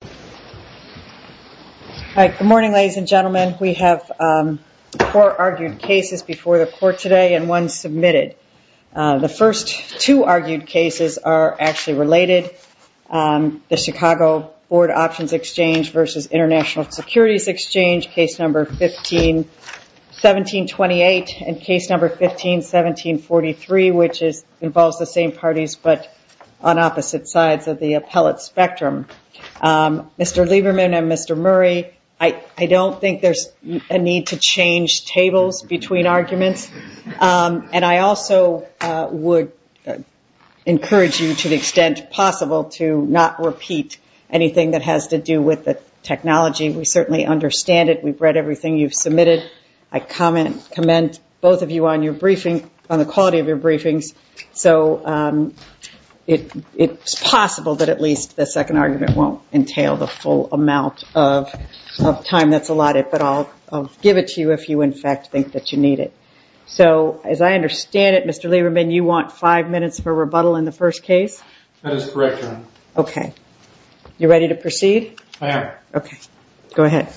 Case No. 151728 and Case No. 151743, which involves the same parties but on opposite sides of the appellate spectrum. Mr. Lieberman and Mr. Murray, I don't think there's a need to change tables between arguments. And I also would encourage you to the extent possible to not repeat anything that has to do with the technology. We certainly understand it. We've read everything you've submitted. I commend both of you on the quality of your briefings. So it's possible that at least the second argument won't entail the full amount of time that's allotted. But I'll give it to you if you, in fact, think that you need it. So as I understand it, Mr. Lieberman, you want five minutes for rebuttal in the first case? That is correct, Your Honor. Okay. You ready to proceed? I am. All right. Okay. Go ahead.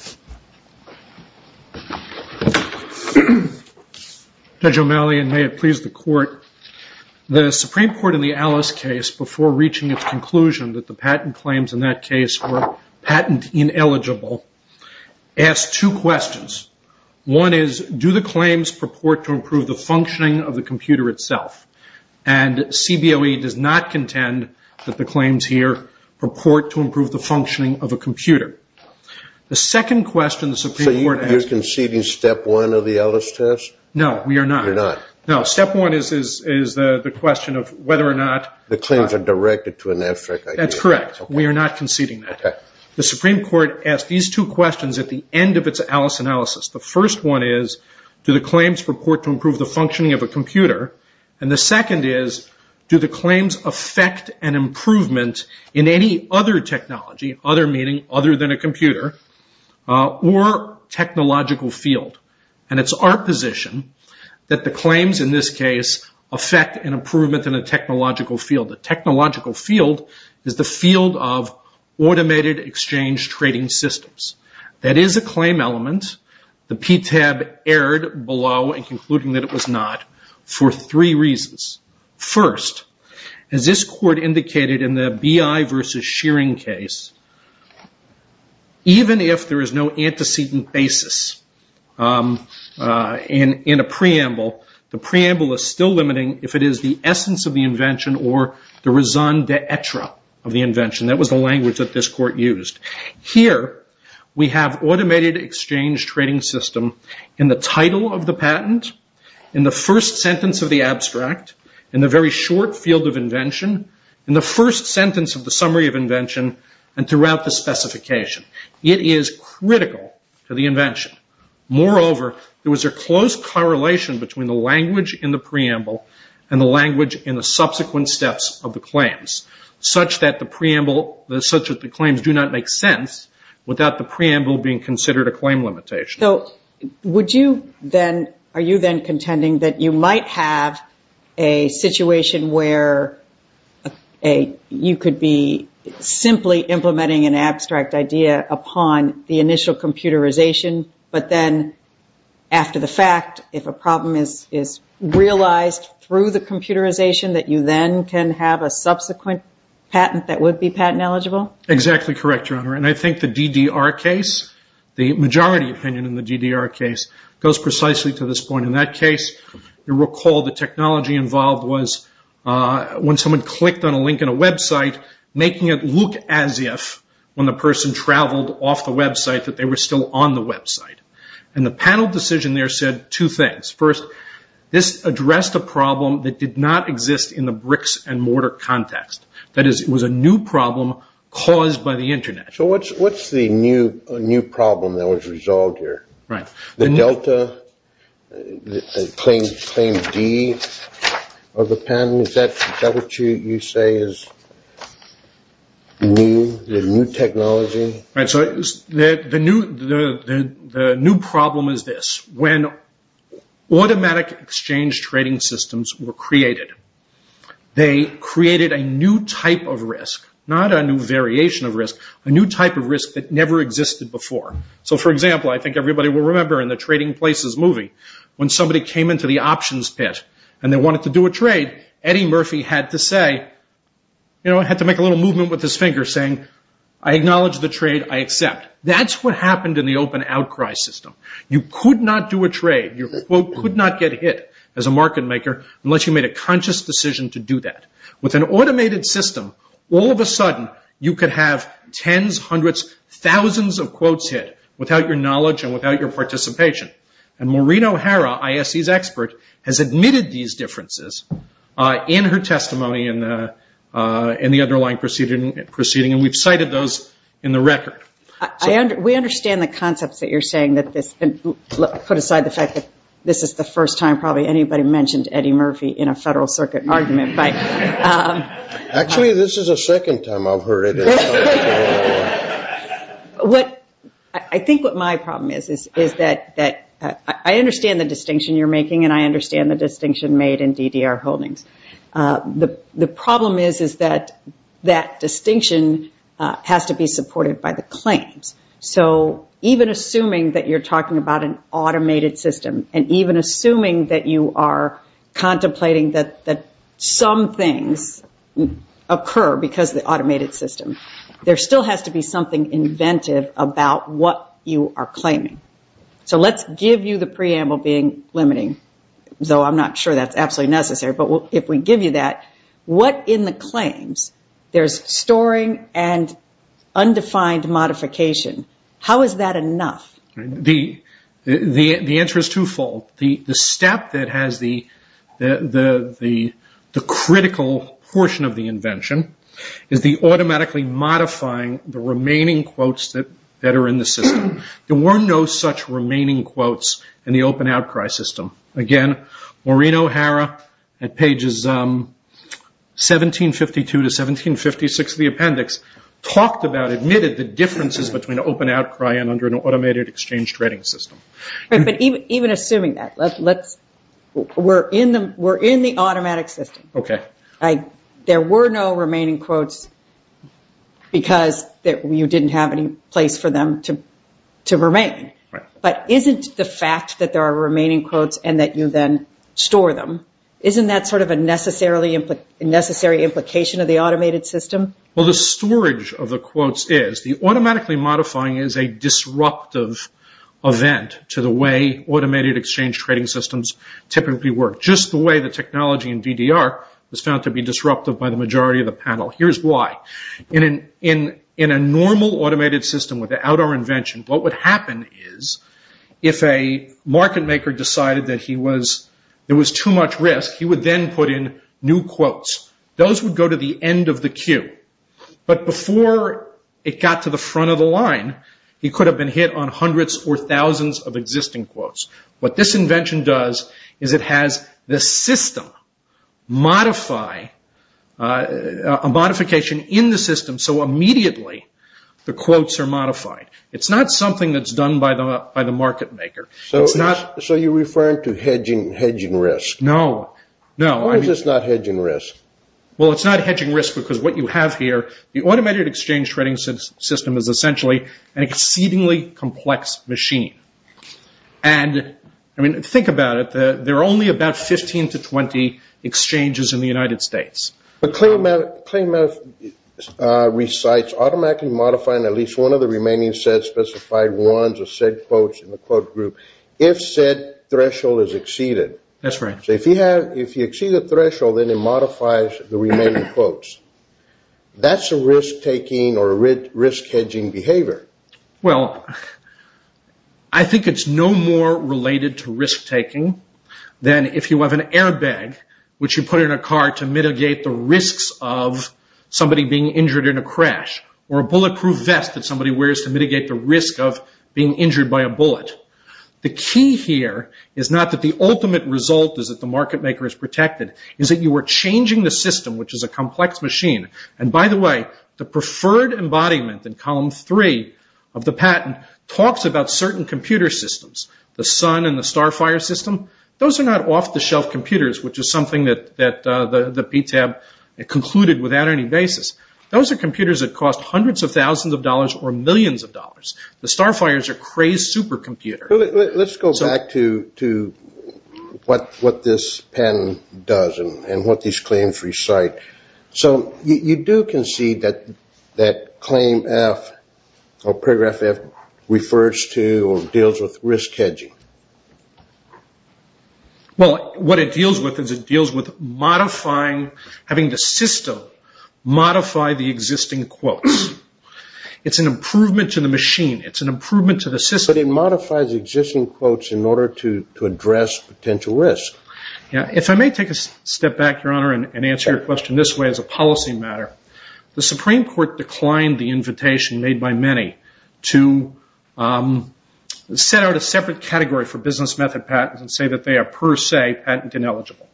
Judge O'Malley, and may it please the Court, the Supreme Court in the Alice case, before reaching its conclusion that the patent claims in that case were patent ineligible, asked two questions. One is, do the claims purport to improve the functioning of the computer itself? And CBOE does not contend that the claims here purport to improve the functioning of a computer. The second question the Supreme Court asked- So you're conceding step one of the Alice test? No, we are not. You're not? No. Step one is the question of whether or not- The claims are directed to an abstract idea. That's correct. We are not conceding that. Okay. The Supreme Court asked these two questions at the end of its Alice analysis. The first one is, do the claims purport to improve the functioning of a computer? And the second is, do the claims affect an improvement in any other technology, other meaning other than a computer, or technological field? And it's our position that the claims in this case affect an improvement in a technological field. The technological field is the field of automated exchange trading systems. That is a claim element. The PTAB erred below in concluding that it was not for three reasons. First, as this court indicated in the BI versus Shearing case, even if there is no antecedent basis in a preamble, the preamble is still limiting if it is the essence of the invention or the raison d'etre of the invention. That was the language that this court used. Here, we have automated exchange trading system in the title of the patent, in the first sentence of the abstract, in the very short field of invention, in the first sentence of the summary of invention, and throughout the specification. It is critical to the invention. Moreover, there was a close correlation between the language in the preamble and the language in the subsequent steps of the claims, such that the claims do not make sense without the preamble being considered a claim limitation. Are you then contending that you might have a situation where you could be simply implementing an abstract idea upon the initial computerization, but then after the fact, if a problem is realized through the computerization, that you then can have a subsequent patent that would be patent eligible? Exactly correct, Your Honor. I think the DDR case, the majority opinion in the DDR case, goes precisely to this point. In that case, you recall the technology involved was when someone clicked on a link in a website, making it look as if, when the person traveled off the website, that they were still on the website. And the panel decision there said two things. First, this addressed a problem that did not exist in the bricks-and-mortar context. That is, it was a new problem caused by the Internet. So what's the new problem that was resolved here? The Delta claim D of the patent, is that what you say is new, the new technology? The new problem is this. When automatic exchange trading systems were created, they created a new type of risk, not a new variation of risk, a new type of risk that never existed before. So, for example, I think everybody will remember in the Trading Places movie, when somebody came into the options pit and they wanted to do a trade, Eddie Murphy had to make a little movement with his finger saying, I acknowledge the trade, I accept. That's what happened in the open outcry system. You could not do a trade. Your quote could not get hit as a market maker unless you made a conscious decision to do that. With an automated system, all of a sudden, you could have tens, hundreds, thousands of quotes hit without your knowledge and without your participation. And Maureen O'Hara, ISE's expert, has admitted these differences in her testimony and the underlying proceeding, and we've cited those in the record. We understand the concepts that you're saying, put aside the fact that this is the first time probably anybody mentioned Eddie Murphy in a Federal Circuit argument. Actually, this is the second time I've heard it. I think what my problem is, is that I understand the distinction you're making and I understand the distinction made in DDR holdings. The problem is, is that that distinction has to be supported by the claims. So even assuming that you're talking about an automated system and even assuming that you are contemplating that some things occur because of the automated system, there still has to be something inventive about what you are claiming. So let's give you the preamble being limiting, though I'm not sure that's absolutely necessary. But if we give you that, what in the claims? There's storing and undefined modification. How is that enough? The answer is twofold. The step that has the critical portion of the invention is the automatically modifying the remaining quotes that are in the system. There were no such remaining quotes in the open outcry system. Again, Maureen O'Hara at pages 1752 to 1756 of the appendix talked about, admitted the differences between open outcry and under an automated exchange trading system. But even assuming that, we're in the automatic system. Okay. There were no remaining quotes because you didn't have any place for them to remain. Right. But isn't the fact that there are remaining quotes and that you then store them, isn't that sort of a necessary implication of the automated system? Well, the storage of the quotes is the automatically modifying is a disruptive event to the way automated exchange trading systems typically work, just the way the technology in DDR was found to be disruptive by the majority of the panel. Here's why. In a normal automated system without our invention, what would happen is if a market maker decided that there was too much risk, he would then put in new quotes. Those would go to the end of the queue. But before it got to the front of the line, he could have been hit on hundreds or thousands of existing quotes. What this invention does is it has the system modify a modification in the system so immediately the quotes are modified. It's not something that's done by the market maker. So you're referring to hedging risk. No. Why is this not hedging risk? Well, it's not hedging risk because what you have here, the automated exchange trading system is essentially an exceedingly complex machine. And, I mean, think about it. There are only about 15 to 20 exchanges in the United States. But ClaimMath recites automatically modifying at least one of the remaining said specified ones or said quotes in the quote group if said threshold is exceeded. That's right. So if you exceed a threshold, then it modifies the remaining quotes. That's a risk-taking or a risk-hedging behavior. Well, I think it's no more related to risk-taking than if you have an airbag, which you put in a car to mitigate the risks of somebody being injured in a crash, or a bulletproof vest that somebody wears to mitigate the risk of being injured by a bullet. The key here is not that the ultimate result is that the market maker is protected. It's that you are changing the system, which is a complex machine. And, by the way, the preferred embodiment in column three of the patent talks about certain computer systems. The Sun and the Starfire system, those are not off-the-shelf computers, which is something that the PTAB concluded without any basis. Those are computers that cost hundreds of thousands of dollars or millions of dollars. The Starfires are crazed supercomputers. Let's go back to what this patent does and what these claims recite. So you do concede that claim F, or paragraph F, refers to or deals with risk-hedging. Well, what it deals with is it deals with modifying, having the system modify the existing quotes. It's an improvement to the machine. It's an improvement to the system. But it modifies existing quotes in order to address potential risk. If I may take a step back, Your Honor, and answer your question this way as a policy matter, the Supreme Court declined the invitation made by many to set out a separate category for business method patents and say that they are per se patent ineligible.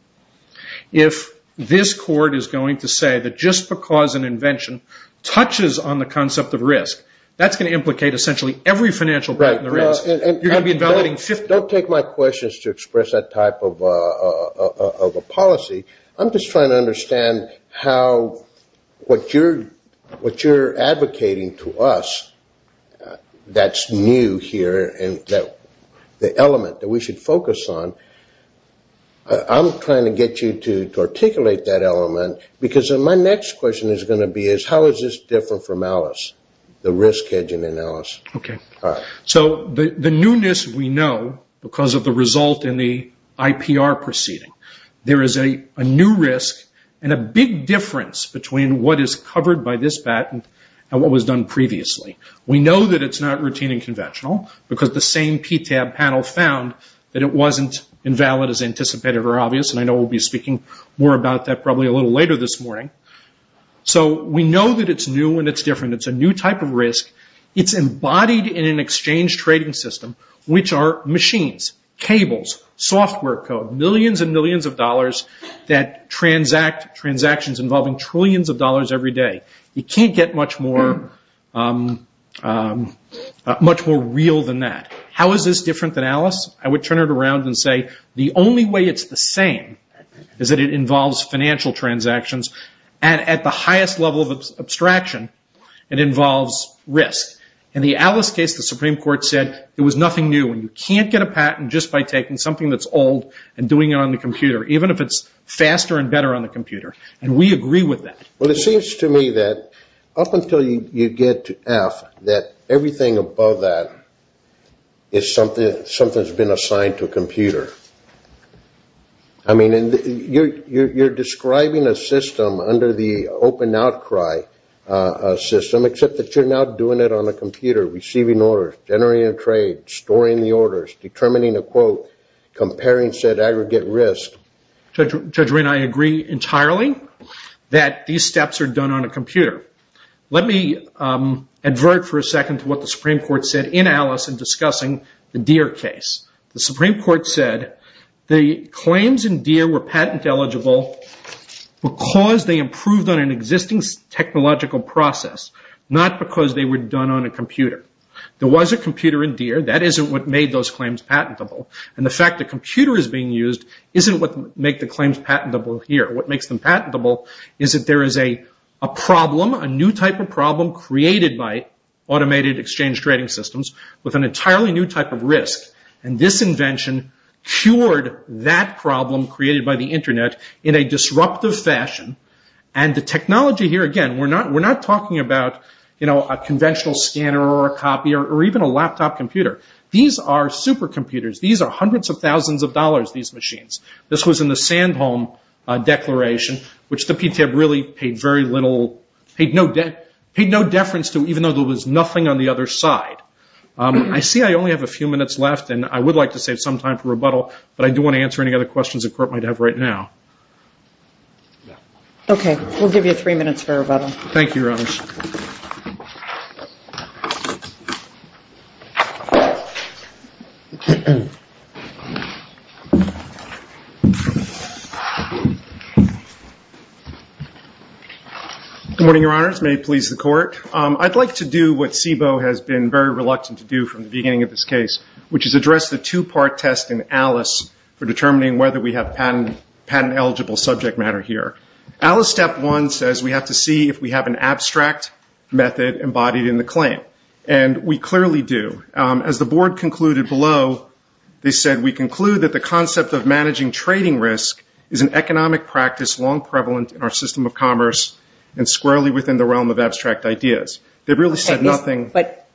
If this court is going to say that just because an invention touches on the concept of risk, that's going to implicate essentially every financial patent there is. Don't take my questions to express that type of a policy. I'm just trying to understand how what you're advocating to us that's new here and the element that we should focus on, I'm trying to get you to articulate that element because my next question is going to be how is this different from Alice, the risk hedging in Alice. The newness we know because of the result in the IPR proceeding. There is a new risk and a big difference between what is covered by this patent and what was done previously. We know that it's not routine and conventional because the same PTAB panel found that it wasn't invalid as anticipated or obvious, and I know we'll be speaking more about that probably a little later this morning. We know that it's new and it's different. It's a new type of risk. It's embodied in an exchange trading system, which are machines, cables, software code, millions and millions of dollars that transact, transactions involving trillions of dollars every day. You can't get much more real than that. How is this different than Alice? I would turn it around and say the only way it's the same is that it involves financial transactions and at the highest level of abstraction, it involves risk. In the Alice case, the Supreme Court said there was nothing new and you can't get a patent just by taking something that's old and doing it on the computer, even if it's faster and better on the computer, and we agree with that. Well, it seems to me that up until you get to F, that everything above that is something that's been assigned to a computer. I mean, you're describing a system under the open outcry system, except that you're now doing it on a computer, receiving orders, generating a trade, storing the orders, determining a quote, comparing said aggregate risk. Judge Winn, I agree entirely that these steps are done on a computer. Let me advert for a second to what the Supreme Court said in Alice in discussing the Deere case. The Supreme Court said the claims in Deere were patent eligible because they improved on an existing technological process, not because they were done on a computer. There was a computer in Deere. That isn't what made those claims patentable, and the fact the computer is being used isn't what makes the claims patentable here. What makes them patentable is that there is a problem, a new type of problem created by automated exchange trading systems with an entirely new type of risk, and this invention cured that problem created by the Internet in a disruptive fashion. And the technology here, again, we're not talking about a conventional scanner or a copier or even a laptop computer. These are supercomputers. These are hundreds of thousands of dollars, these machines. This was in the Sandholm Declaration, which the PTA really paid no deference to, even though there was nothing on the other side. I see I only have a few minutes left, and I would like to save some time for rebuttal, but I do want to answer any other questions the Court might have right now. Okay. We'll give you three minutes for rebuttal. Thank you, Your Honors. May it please the Court. I'd like to do what SIBO has been very reluctant to do from the beginning of this case, which is address the two-part test in ALICE for determining whether we have patent-eligible subject matter here. ALICE Step 1 says we have to see if we have an abstract method embodied in the claim, and we clearly do. As the Board concluded below, they said, we conclude that the concept of managing trading risk is an economic practice long prevalent in our system of commerce and squarely within the realm of abstract ideas. They really said nothing. But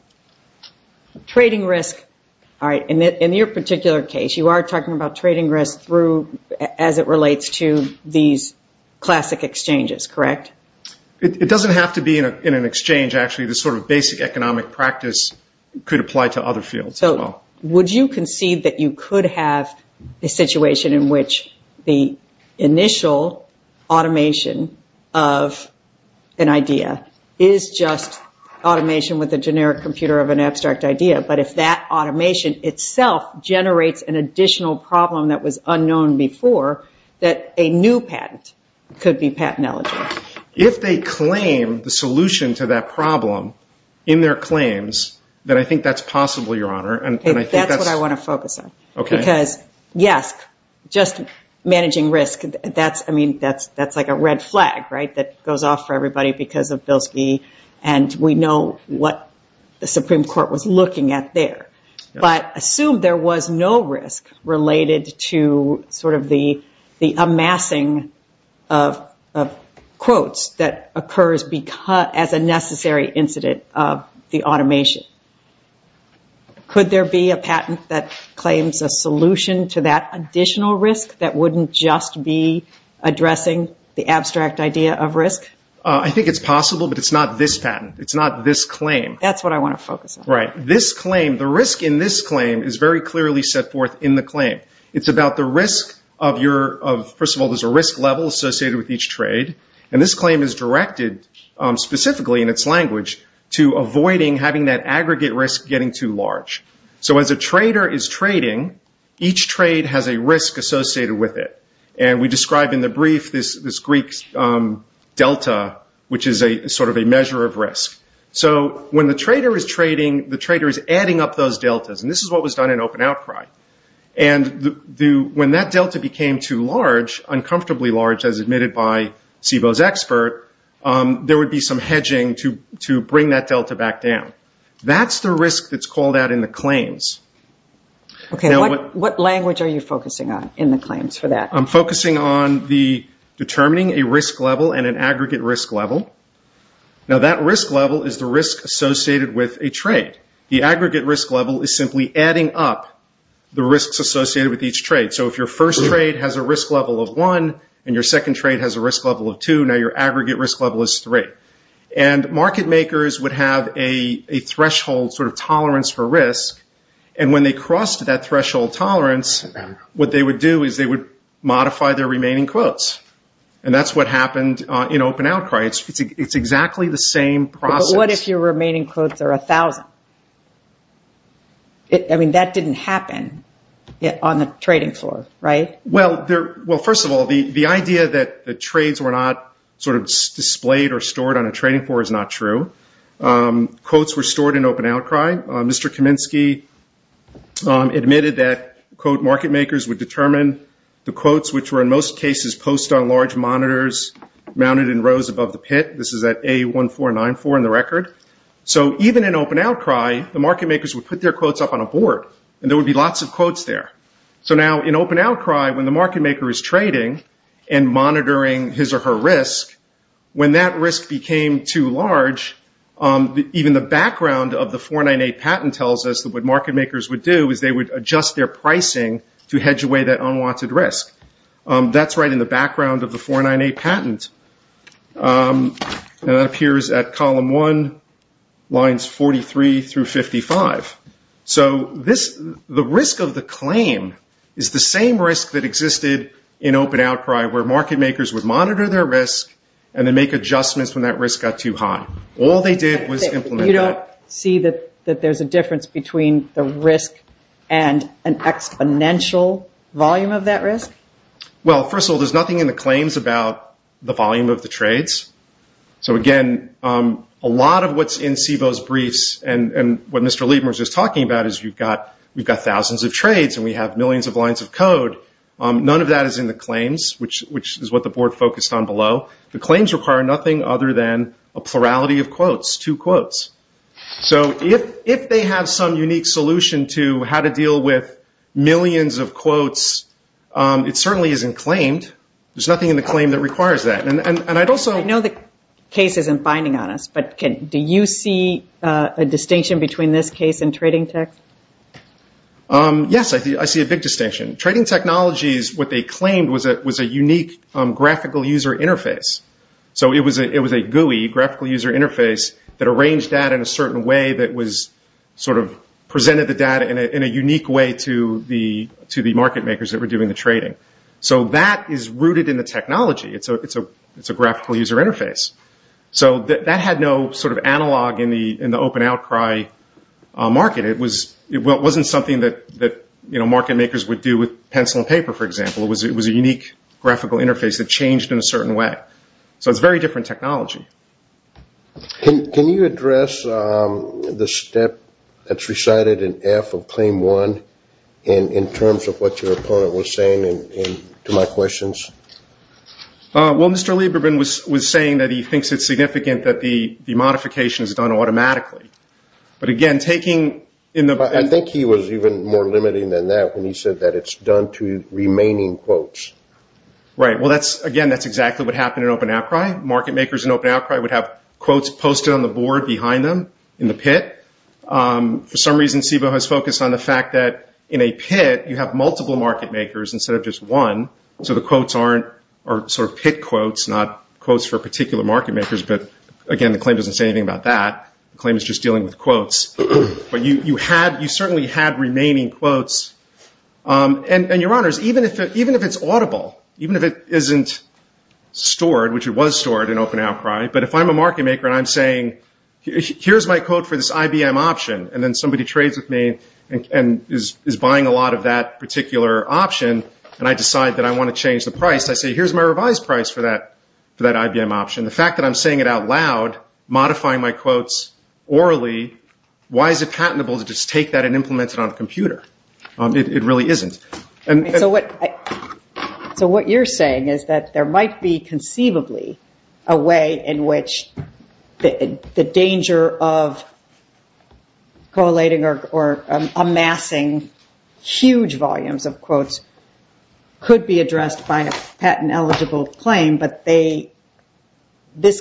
trading risk, all right, in your particular case, you are talking about trading risk as it relates to these classic exchanges, correct? It doesn't have to be in an exchange, actually. The sort of basic economic practice could apply to other fields as well. Would you concede that you could have a situation in which the initial automation of an idea is just automation with a generic computer of an abstract idea, but if that automation itself generates an additional problem that was unknown before, that a new patent could be patent-eligible? If they claim the solution to that problem in their claims, then I think that's possible, Your Honor. That's what I want to focus on, because, yes, just managing risk, that's like a red flag, right, that goes off for everybody because of Bilski, and we know what the Supreme Court was looking at there. But assume there was no risk related to sort of the amassing of quotes that occurs as a necessary incident of the automation. Could there be a patent that claims a solution to that additional risk that wouldn't just be addressing the abstract idea of risk? I think it's possible, but it's not this patent. It's not this claim. That's what I want to focus on. Right. This claim, the risk in this claim is very clearly set forth in the claim. It's about the risk of, first of all, there's a risk level associated with each trade, and this claim is directed specifically in its language to avoiding having that aggregate risk getting too large. So as a trader is trading, each trade has a risk associated with it, and we describe in the brief this Greek delta, which is sort of a measure of risk. So when the trader is trading, the trader is adding up those deltas, and this is what was done in open outcry. And when that delta became too large, uncomfortably large, as admitted by SIBO's expert, there would be some hedging to bring that delta back down. That's the risk that's called out in the claims. Okay. What language are you focusing on in the claims for that? I'm focusing on determining a risk level and an aggregate risk level. Now, that risk level is the risk associated with a trade. The aggregate risk level is simply adding up the risks associated with each trade. So if your first trade has a risk level of one and your second trade has a risk level of two, now your aggregate risk level is three. And market makers would have a threshold sort of tolerance for risk, and when they crossed that threshold tolerance, what they would do is they would modify their remaining quotes, and that's what happened in open outcry. It's exactly the same process. What if your remaining quotes are 1,000? I mean, that didn't happen on the trading floor, right? Well, first of all, the idea that the trades were not sort of displayed or stored on a trading floor is not true. Quotes were stored in open outcry. Mr. Kaminsky admitted that, quote, market makers would determine the quotes, which were in most cases post on large monitors, mounted in rows above the pit. This is at A1494 in the record. So even in open outcry, the market makers would put their quotes up on a board, and there would be lots of quotes there. So now in open outcry, when the market maker is trading and monitoring his or her risk, when that risk became too large, even the background of the 498 patent tells us that what market makers would do is they would adjust their pricing to hedge away that unwanted risk. That's right in the background of the 498 patent. And that appears at column one, lines 43 through 55. So the risk of the claim is the same risk that existed in open outcry, where market makers would monitor their risk and then make adjustments when that risk got too high. All they did was implement that. You don't see that there's a difference between the risk and an exponential volume of that risk? Well, first of all, there's nothing in the claims about the volume of the trades. So again, a lot of what's in SIBO's briefs, and what Mr. Liebman was just talking about, is we've got thousands of trades and we have millions of lines of code. None of that is in the claims, which is what the board focused on below. The claims require nothing other than a plurality of quotes, two quotes. So if they have some unique solution to how to deal with millions of quotes, it certainly isn't claimed. There's nothing in the claim that requires that. I know the case isn't binding on us, but do you see a distinction between this case and trading tech? Yes, I see a big distinction. Trading technology is what they claimed was a unique graphical user interface. So it was a GUI, graphical user interface, that arranged data in a certain way, that presented the data in a unique way to the market makers that were doing the trading. So that is rooted in the technology. It's a graphical user interface. So that had no analog in the open outcry market. It wasn't something that market makers would do with pencil and paper, for example. It was a unique graphical interface that changed in a certain way. So it's very different technology. Can you address the step that's recited in F of Claim 1 in terms of what your opponent was saying to my questions? Well, Mr. Lieberman was saying that he thinks it's significant that the modification is done automatically. I think he was even more limiting than that when he said that it's done to remaining quotes. Right. Well, again, that's exactly what happened in open outcry. Market makers in open outcry would have quotes posted on the board behind them in the pit. For some reason, SIBO has focused on the fact that in a pit, you have multiple market makers instead of just one. So the quotes are sort of pit quotes, not quotes for particular market makers. But, again, the claim doesn't say anything about that. The claim is just dealing with quotes. But you certainly had remaining quotes. And, Your Honors, even if it's audible, even if it isn't stored, which it was stored in open outcry, but if I'm a market maker and I'm saying, here's my quote for this IBM option, and then somebody trades with me and is buying a lot of that particular option, and I decide that I want to change the price, I say, here's my revised price for that IBM option. The fact that I'm saying it out loud, modifying my quotes orally, why is it patentable to just take that and implement it on a computer? It really isn't. So what you're saying is that there might be conceivably a way in which the danger of collating or amassing huge volumes of quotes could be addressed by a patent-eligible claim, but this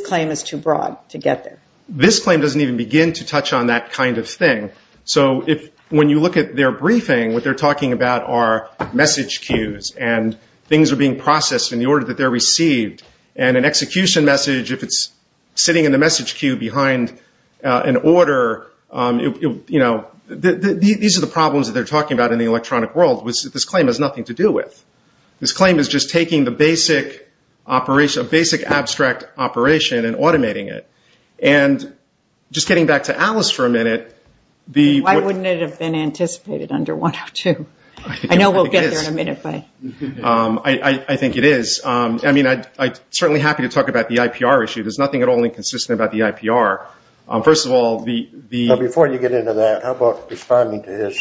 claim is too broad to get there. This claim doesn't even begin to touch on that kind of thing. So when you look at their briefing, what they're talking about are message queues, and things are being processed in the order that they're received. And an execution message, if it's sitting in the message queue behind an order, these are the problems that they're talking about in the electronic world, which this claim has nothing to do with. This claim is just taking the basic abstract operation and automating it. And just getting back to Alice for a minute. Why wouldn't it have been anticipated under 102? I know we'll get there in a minute. I think it is. I mean, I'm certainly happy to talk about the IPR issue. There's nothing at all inconsistent about the IPR. Before you get into that, how about responding to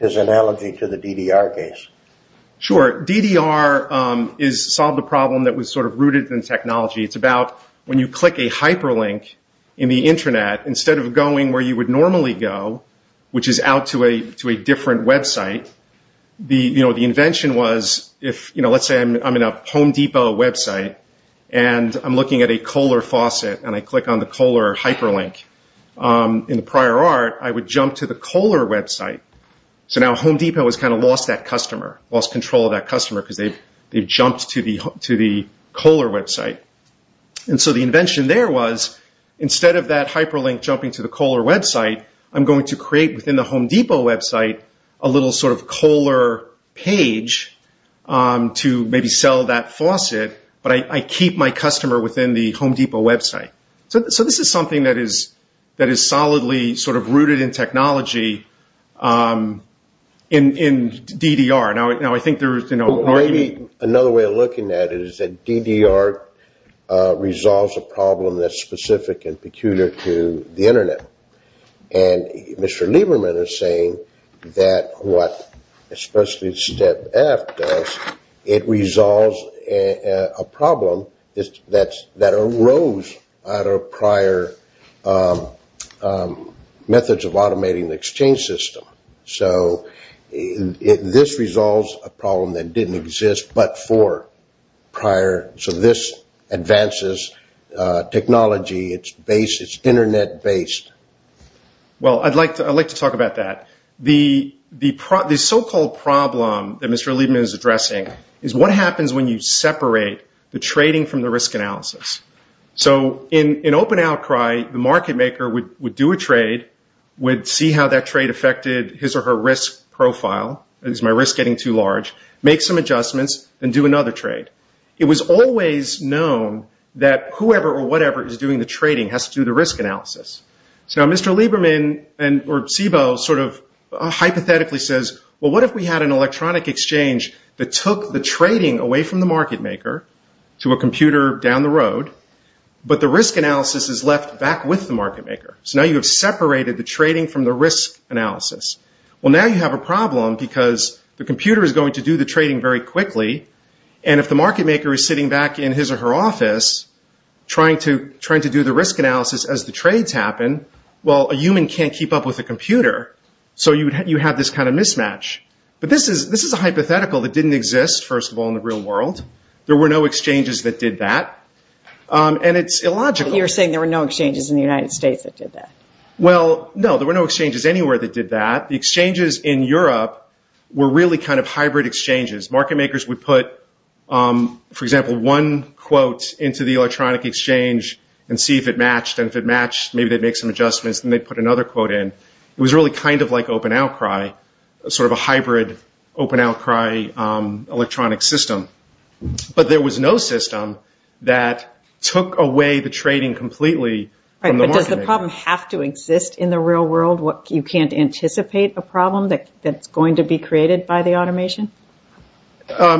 his analogy to the DDR case? Sure. DDR solved a problem that was sort of rooted in technology. It's about when you click a hyperlink in the Internet, instead of going where you would normally go, which is out to a different website, the invention was, let's say I'm in a Home Depot website, and I'm looking at a Kohler faucet, and I click on the Kohler hyperlink. In the prior art, I would jump to the Kohler website. So now Home Depot has kind of lost that customer, lost control of that customer, because they've jumped to the Kohler website. And so the invention there was, instead of that hyperlink jumping to the Kohler website, I'm going to create within the Home Depot website a little sort of Kohler page to maybe sell that faucet, but I keep my customer within the Home Depot website. So this is something that is solidly sort of rooted in technology in DDR. Now, I think there's an argument... Well, maybe another way of looking at it is that DDR resolves a problem that's specific and peculiar to the Internet. And Mr. Lieberman is saying that what especially Step F does, it resolves a problem that arose out of prior methods of automating the exchange system. So this resolves a problem that didn't exist but for prior. So this advances technology. It's Internet-based. Well, I'd like to talk about that. The so-called problem that Mr. Lieberman is addressing is what happens when you separate the trading from the risk analysis. So in open outcry, the market maker would do a trade, would see how that trade affected his or her risk profile. Is my risk getting too large? Make some adjustments and do another trade. It was always known that whoever or whatever is doing the trading has to do the risk analysis. So now Mr. Lieberman, or SIBO, sort of hypothetically says, well, what if we had an electronic exchange that took the trading away from the market maker to a computer down the road, but the risk analysis is left back with the market maker? So now you have separated the trading from the risk analysis. Well, now you have a problem because the computer is going to do the trading very quickly, and if the market maker is sitting back in his or her office trying to do the risk analysis as the trades happen, well, a human can't keep up with a computer, so you have this kind of mismatch. But this is a hypothetical that didn't exist, first of all, in the real world. There were no exchanges that did that, and it's illogical. You're saying there were no exchanges in the United States that did that? Well, no, there were no exchanges anywhere that did that. The exchanges in Europe were really kind of hybrid exchanges. Market makers would put, for example, one quote into the electronic exchange and see if it matched, and if it matched, maybe they'd make some adjustments, and they'd put another quote in. It was really kind of like open outcry, sort of a hybrid open outcry electronic system. But there was no system that took away the trading completely from the market maker. Does the problem have to exist in the real world? You can't anticipate a problem that's going to be created by the automation?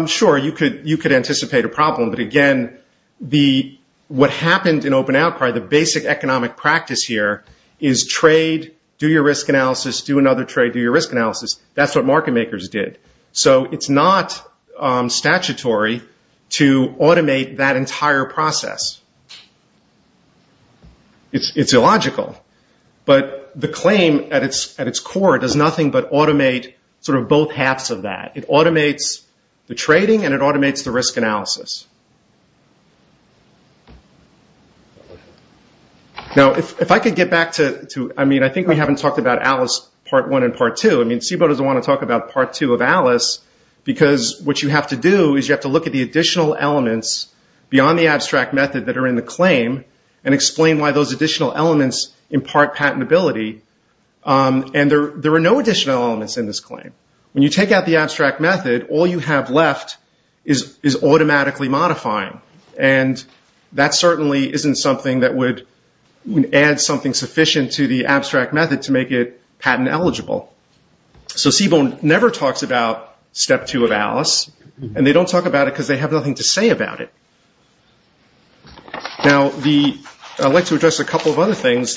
Sure, you could anticipate a problem, but again, what happened in open outcry, the basic economic practice here is trade, do your risk analysis, do another trade, do your risk analysis. That's what market makers did. So it's not statutory to automate that entire process. It's illogical. But the claim at its core does nothing but automate sort of both halves of that. It automates the trading and it automates the risk analysis. Now, if I could get back to, I mean, I think we haven't talked about Alice Part 1 and Part 2. I mean, SIBO doesn't want to talk about Part 2 of Alice because what you have to do is you have to look at the additional elements beyond the abstract method that are in the claim and explain why those additional elements impart patentability. And there are no additional elements in this claim. When you take out the abstract method, all you have left is automatically modifying. And that certainly isn't something that would add something sufficient to the abstract method to make it patent eligible. So SIBO never talks about Step 2 of Alice, and they don't talk about it because they have nothing to say about it. Now, I'd like to address a couple of other things.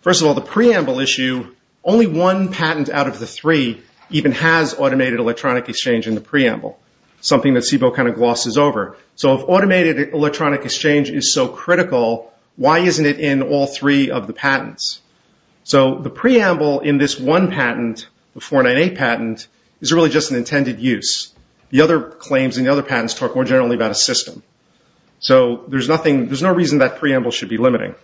First of all, the preamble issue, only one patent out of the three even has automated electronic exchange in the preamble, something that SIBO kind of glosses over. So if automated electronic exchange is so critical, why isn't it in all three of the patents? So the preamble in this one patent, the 498 patent, is really just an intended use. The other claims in the other patents talk more generally about a system. So there's no reason that preamble should be limiting.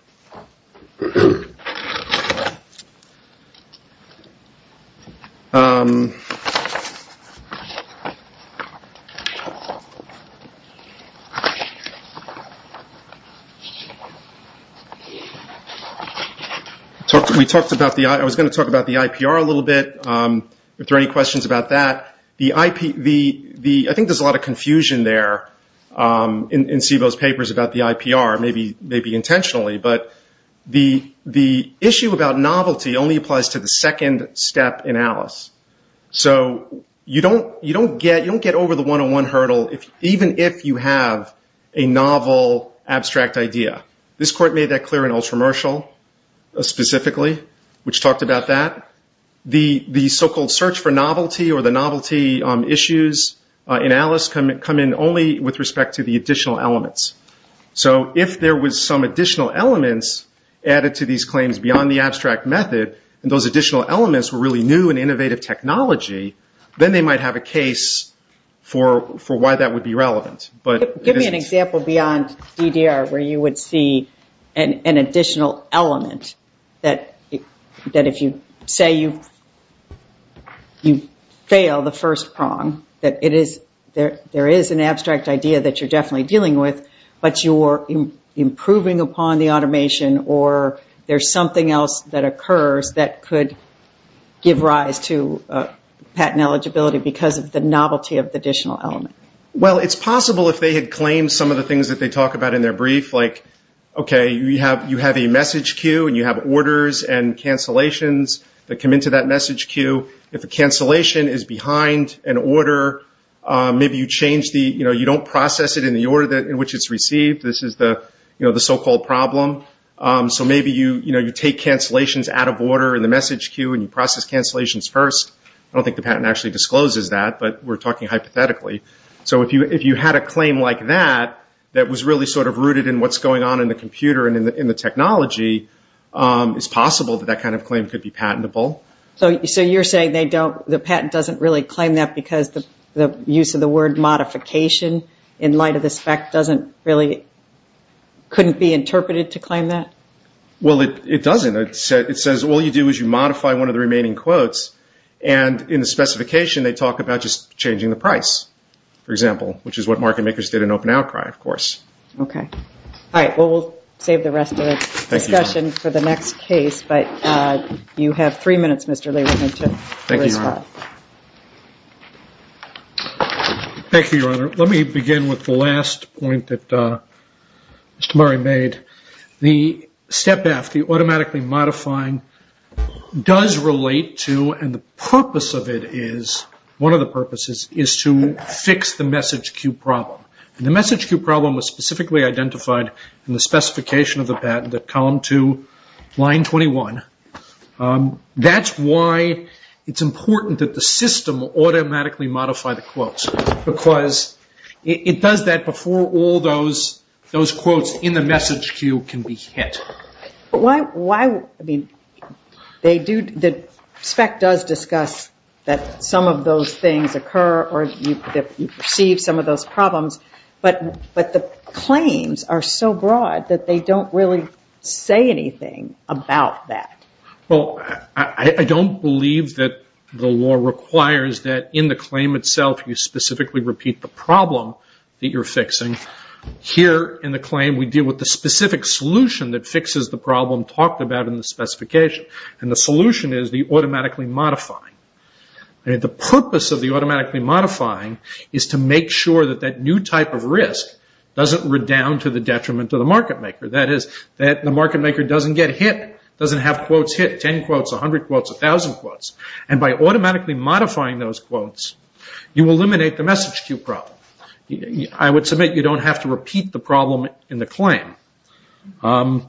I was going to talk about the IPR a little bit, if there are any questions about that. I think there's a lot of confusion there in SIBO's papers about the IPR, maybe intentionally. But the issue about novelty only applies to the second step in Alice. So you don't get over the one-on-one hurdle even if you have a novel abstract idea. This court made that clear in Ultramershal specifically, which talked about that. The so-called search for novelty or the novelty issues in Alice come in only with respect to the additional elements. So if there was some additional elements added to these claims beyond the abstract method, and those additional elements were really new and innovative technology, then they might have a case for why that would be relevant. Give me an example beyond DDR where you would see an additional element that if you say you fail the first prong, that there is an abstract idea that you're definitely dealing with, but you're improving upon the automation or there's something else that occurs that could give rise to patent eligibility because of the novelty of the additional element. It's possible if they had claimed some of the things that they talk about in their brief, like you have a message queue and you have orders and cancellations that come into that message queue. If the cancellation is behind an order, maybe you don't process it in the order in which it's received. This is the so-called problem. So maybe you take cancellations out of order in the message queue and you process cancellations first. I don't think the patent actually discloses that, but we're talking hypothetically. So if you had a claim like that that was really rooted in what's going on in the computer and in the technology, it's possible that that kind of claim could be patentable. So you're saying the patent doesn't really claim that because the use of the word modification in light of the spec couldn't be interpreted to claim that? Well, it doesn't. It says all you do is you modify one of the remaining quotes, and in the specification they talk about just changing the price, for example, which is what market makers did in open outcry, of course. Okay. All right. Well, we'll save the rest of the discussion for the next case, but you have three minutes, Mr. Lee, to respond. Thank you, Your Honor. Thank you, Your Honor. Let me begin with the last point that Mr. Murray made. The step F, the automatically modifying, does relate to, and the purpose of it is, one of the purposes is to fix the message queue problem, and the message queue problem was specifically identified in the specification of the patent at column 2, line 21. That's why it's important that the system automatically modify the quotes because it does that before all those quotes in the message queue can be hit. Why, I mean, they do, the spec does discuss that some of those things occur or that you perceive some of those problems, but the claims are so broad that they don't really say anything about that. Well, I don't believe that the law requires that in the claim itself you specifically repeat the problem that you're fixing. Here in the claim we deal with the specific solution that fixes the problem talked about in the specification, and the solution is the automatically modifying. The purpose of the automatically modifying is to make sure that that new type of risk doesn't redound to the detriment of the market maker. That is, that the market maker doesn't get hit, doesn't have quotes hit, 10 quotes, 100 quotes, 1,000 quotes, and by automatically modifying those quotes you eliminate the message queue problem. I would submit you don't have to repeat the problem in the claim. Have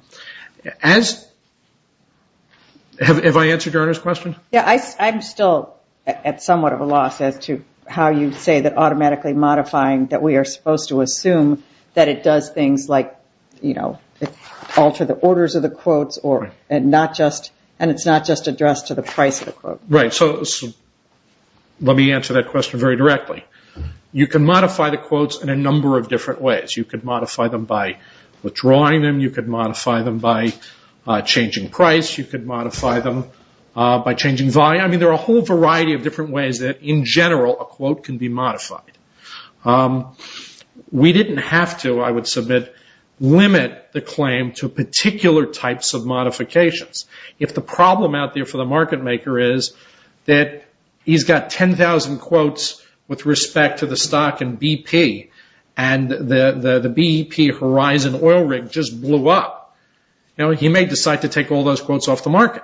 I answered your question? Yeah, I'm still at somewhat of a loss as to how you say that automatically modifying, that we are supposed to assume that it does things like alter the orders of the quotes and it's not just addressed to the price of the quote. Right, so let me answer that question very directly. You can modify the quotes in a number of different ways. You could modify them by withdrawing them. You could modify them by changing price. You could modify them by changing volume. There are a whole variety of different ways that, in general, a quote can be modified. We didn't have to, I would submit, limit the claim to particular types of modifications. If the problem out there for the market maker is that he's got 10,000 quotes with respect to the stock in BP and the BP Horizon oil rig just blew up, he may decide to take all those quotes off the market.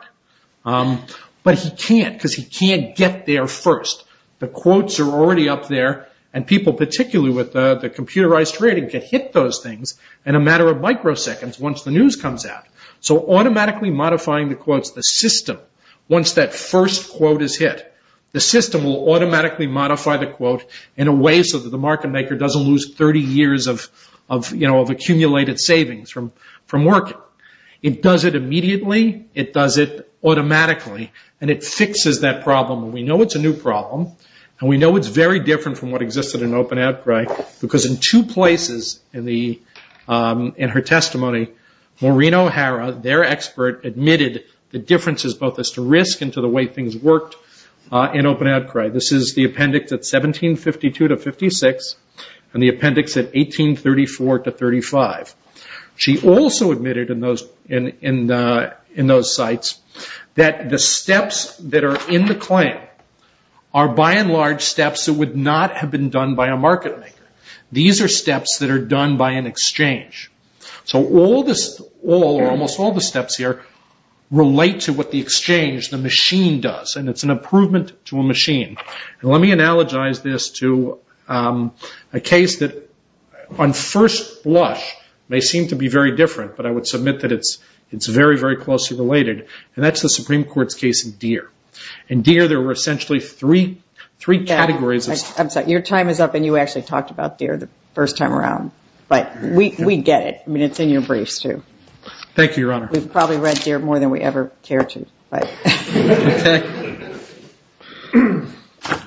But he can't because he can't get there first. The quotes are already up there and people, particularly with the computerized trading, can hit those things in a matter of microseconds once the news comes out. So automatically modifying the quotes, the system, once that first quote is hit, the system will automatically modify the quote in a way so that the market maker doesn't lose 30 years of accumulated savings from working. It does it immediately. It does it automatically and it fixes that problem. We know it's a new problem and we know it's very different from what existed in open outcry because in two places in her testimony, Maureen O'Hara, their expert, admitted the differences both as to risk and to the way things worked in open outcry. This is the appendix at 1752-56 and the appendix at 1834-35. She also admitted in those sites that the steps that are in the claim are by and large steps that would not have been done by a market maker. These are steps that are done by an exchange. So almost all the steps here relate to what the exchange, the machine, does and it's an improvement to a machine. And let me analogize this to a case that on first blush may seem to be very different, but I would submit that it's very, very closely related, and that's the Supreme Court's case of Deere. In Deere there were essentially three categories. I'm sorry, your time is up and you actually talked about Deere the first time around, but we get it. I mean, it's in your briefs too. Thank you, Your Honor. We've probably read Deere more than we ever cared to.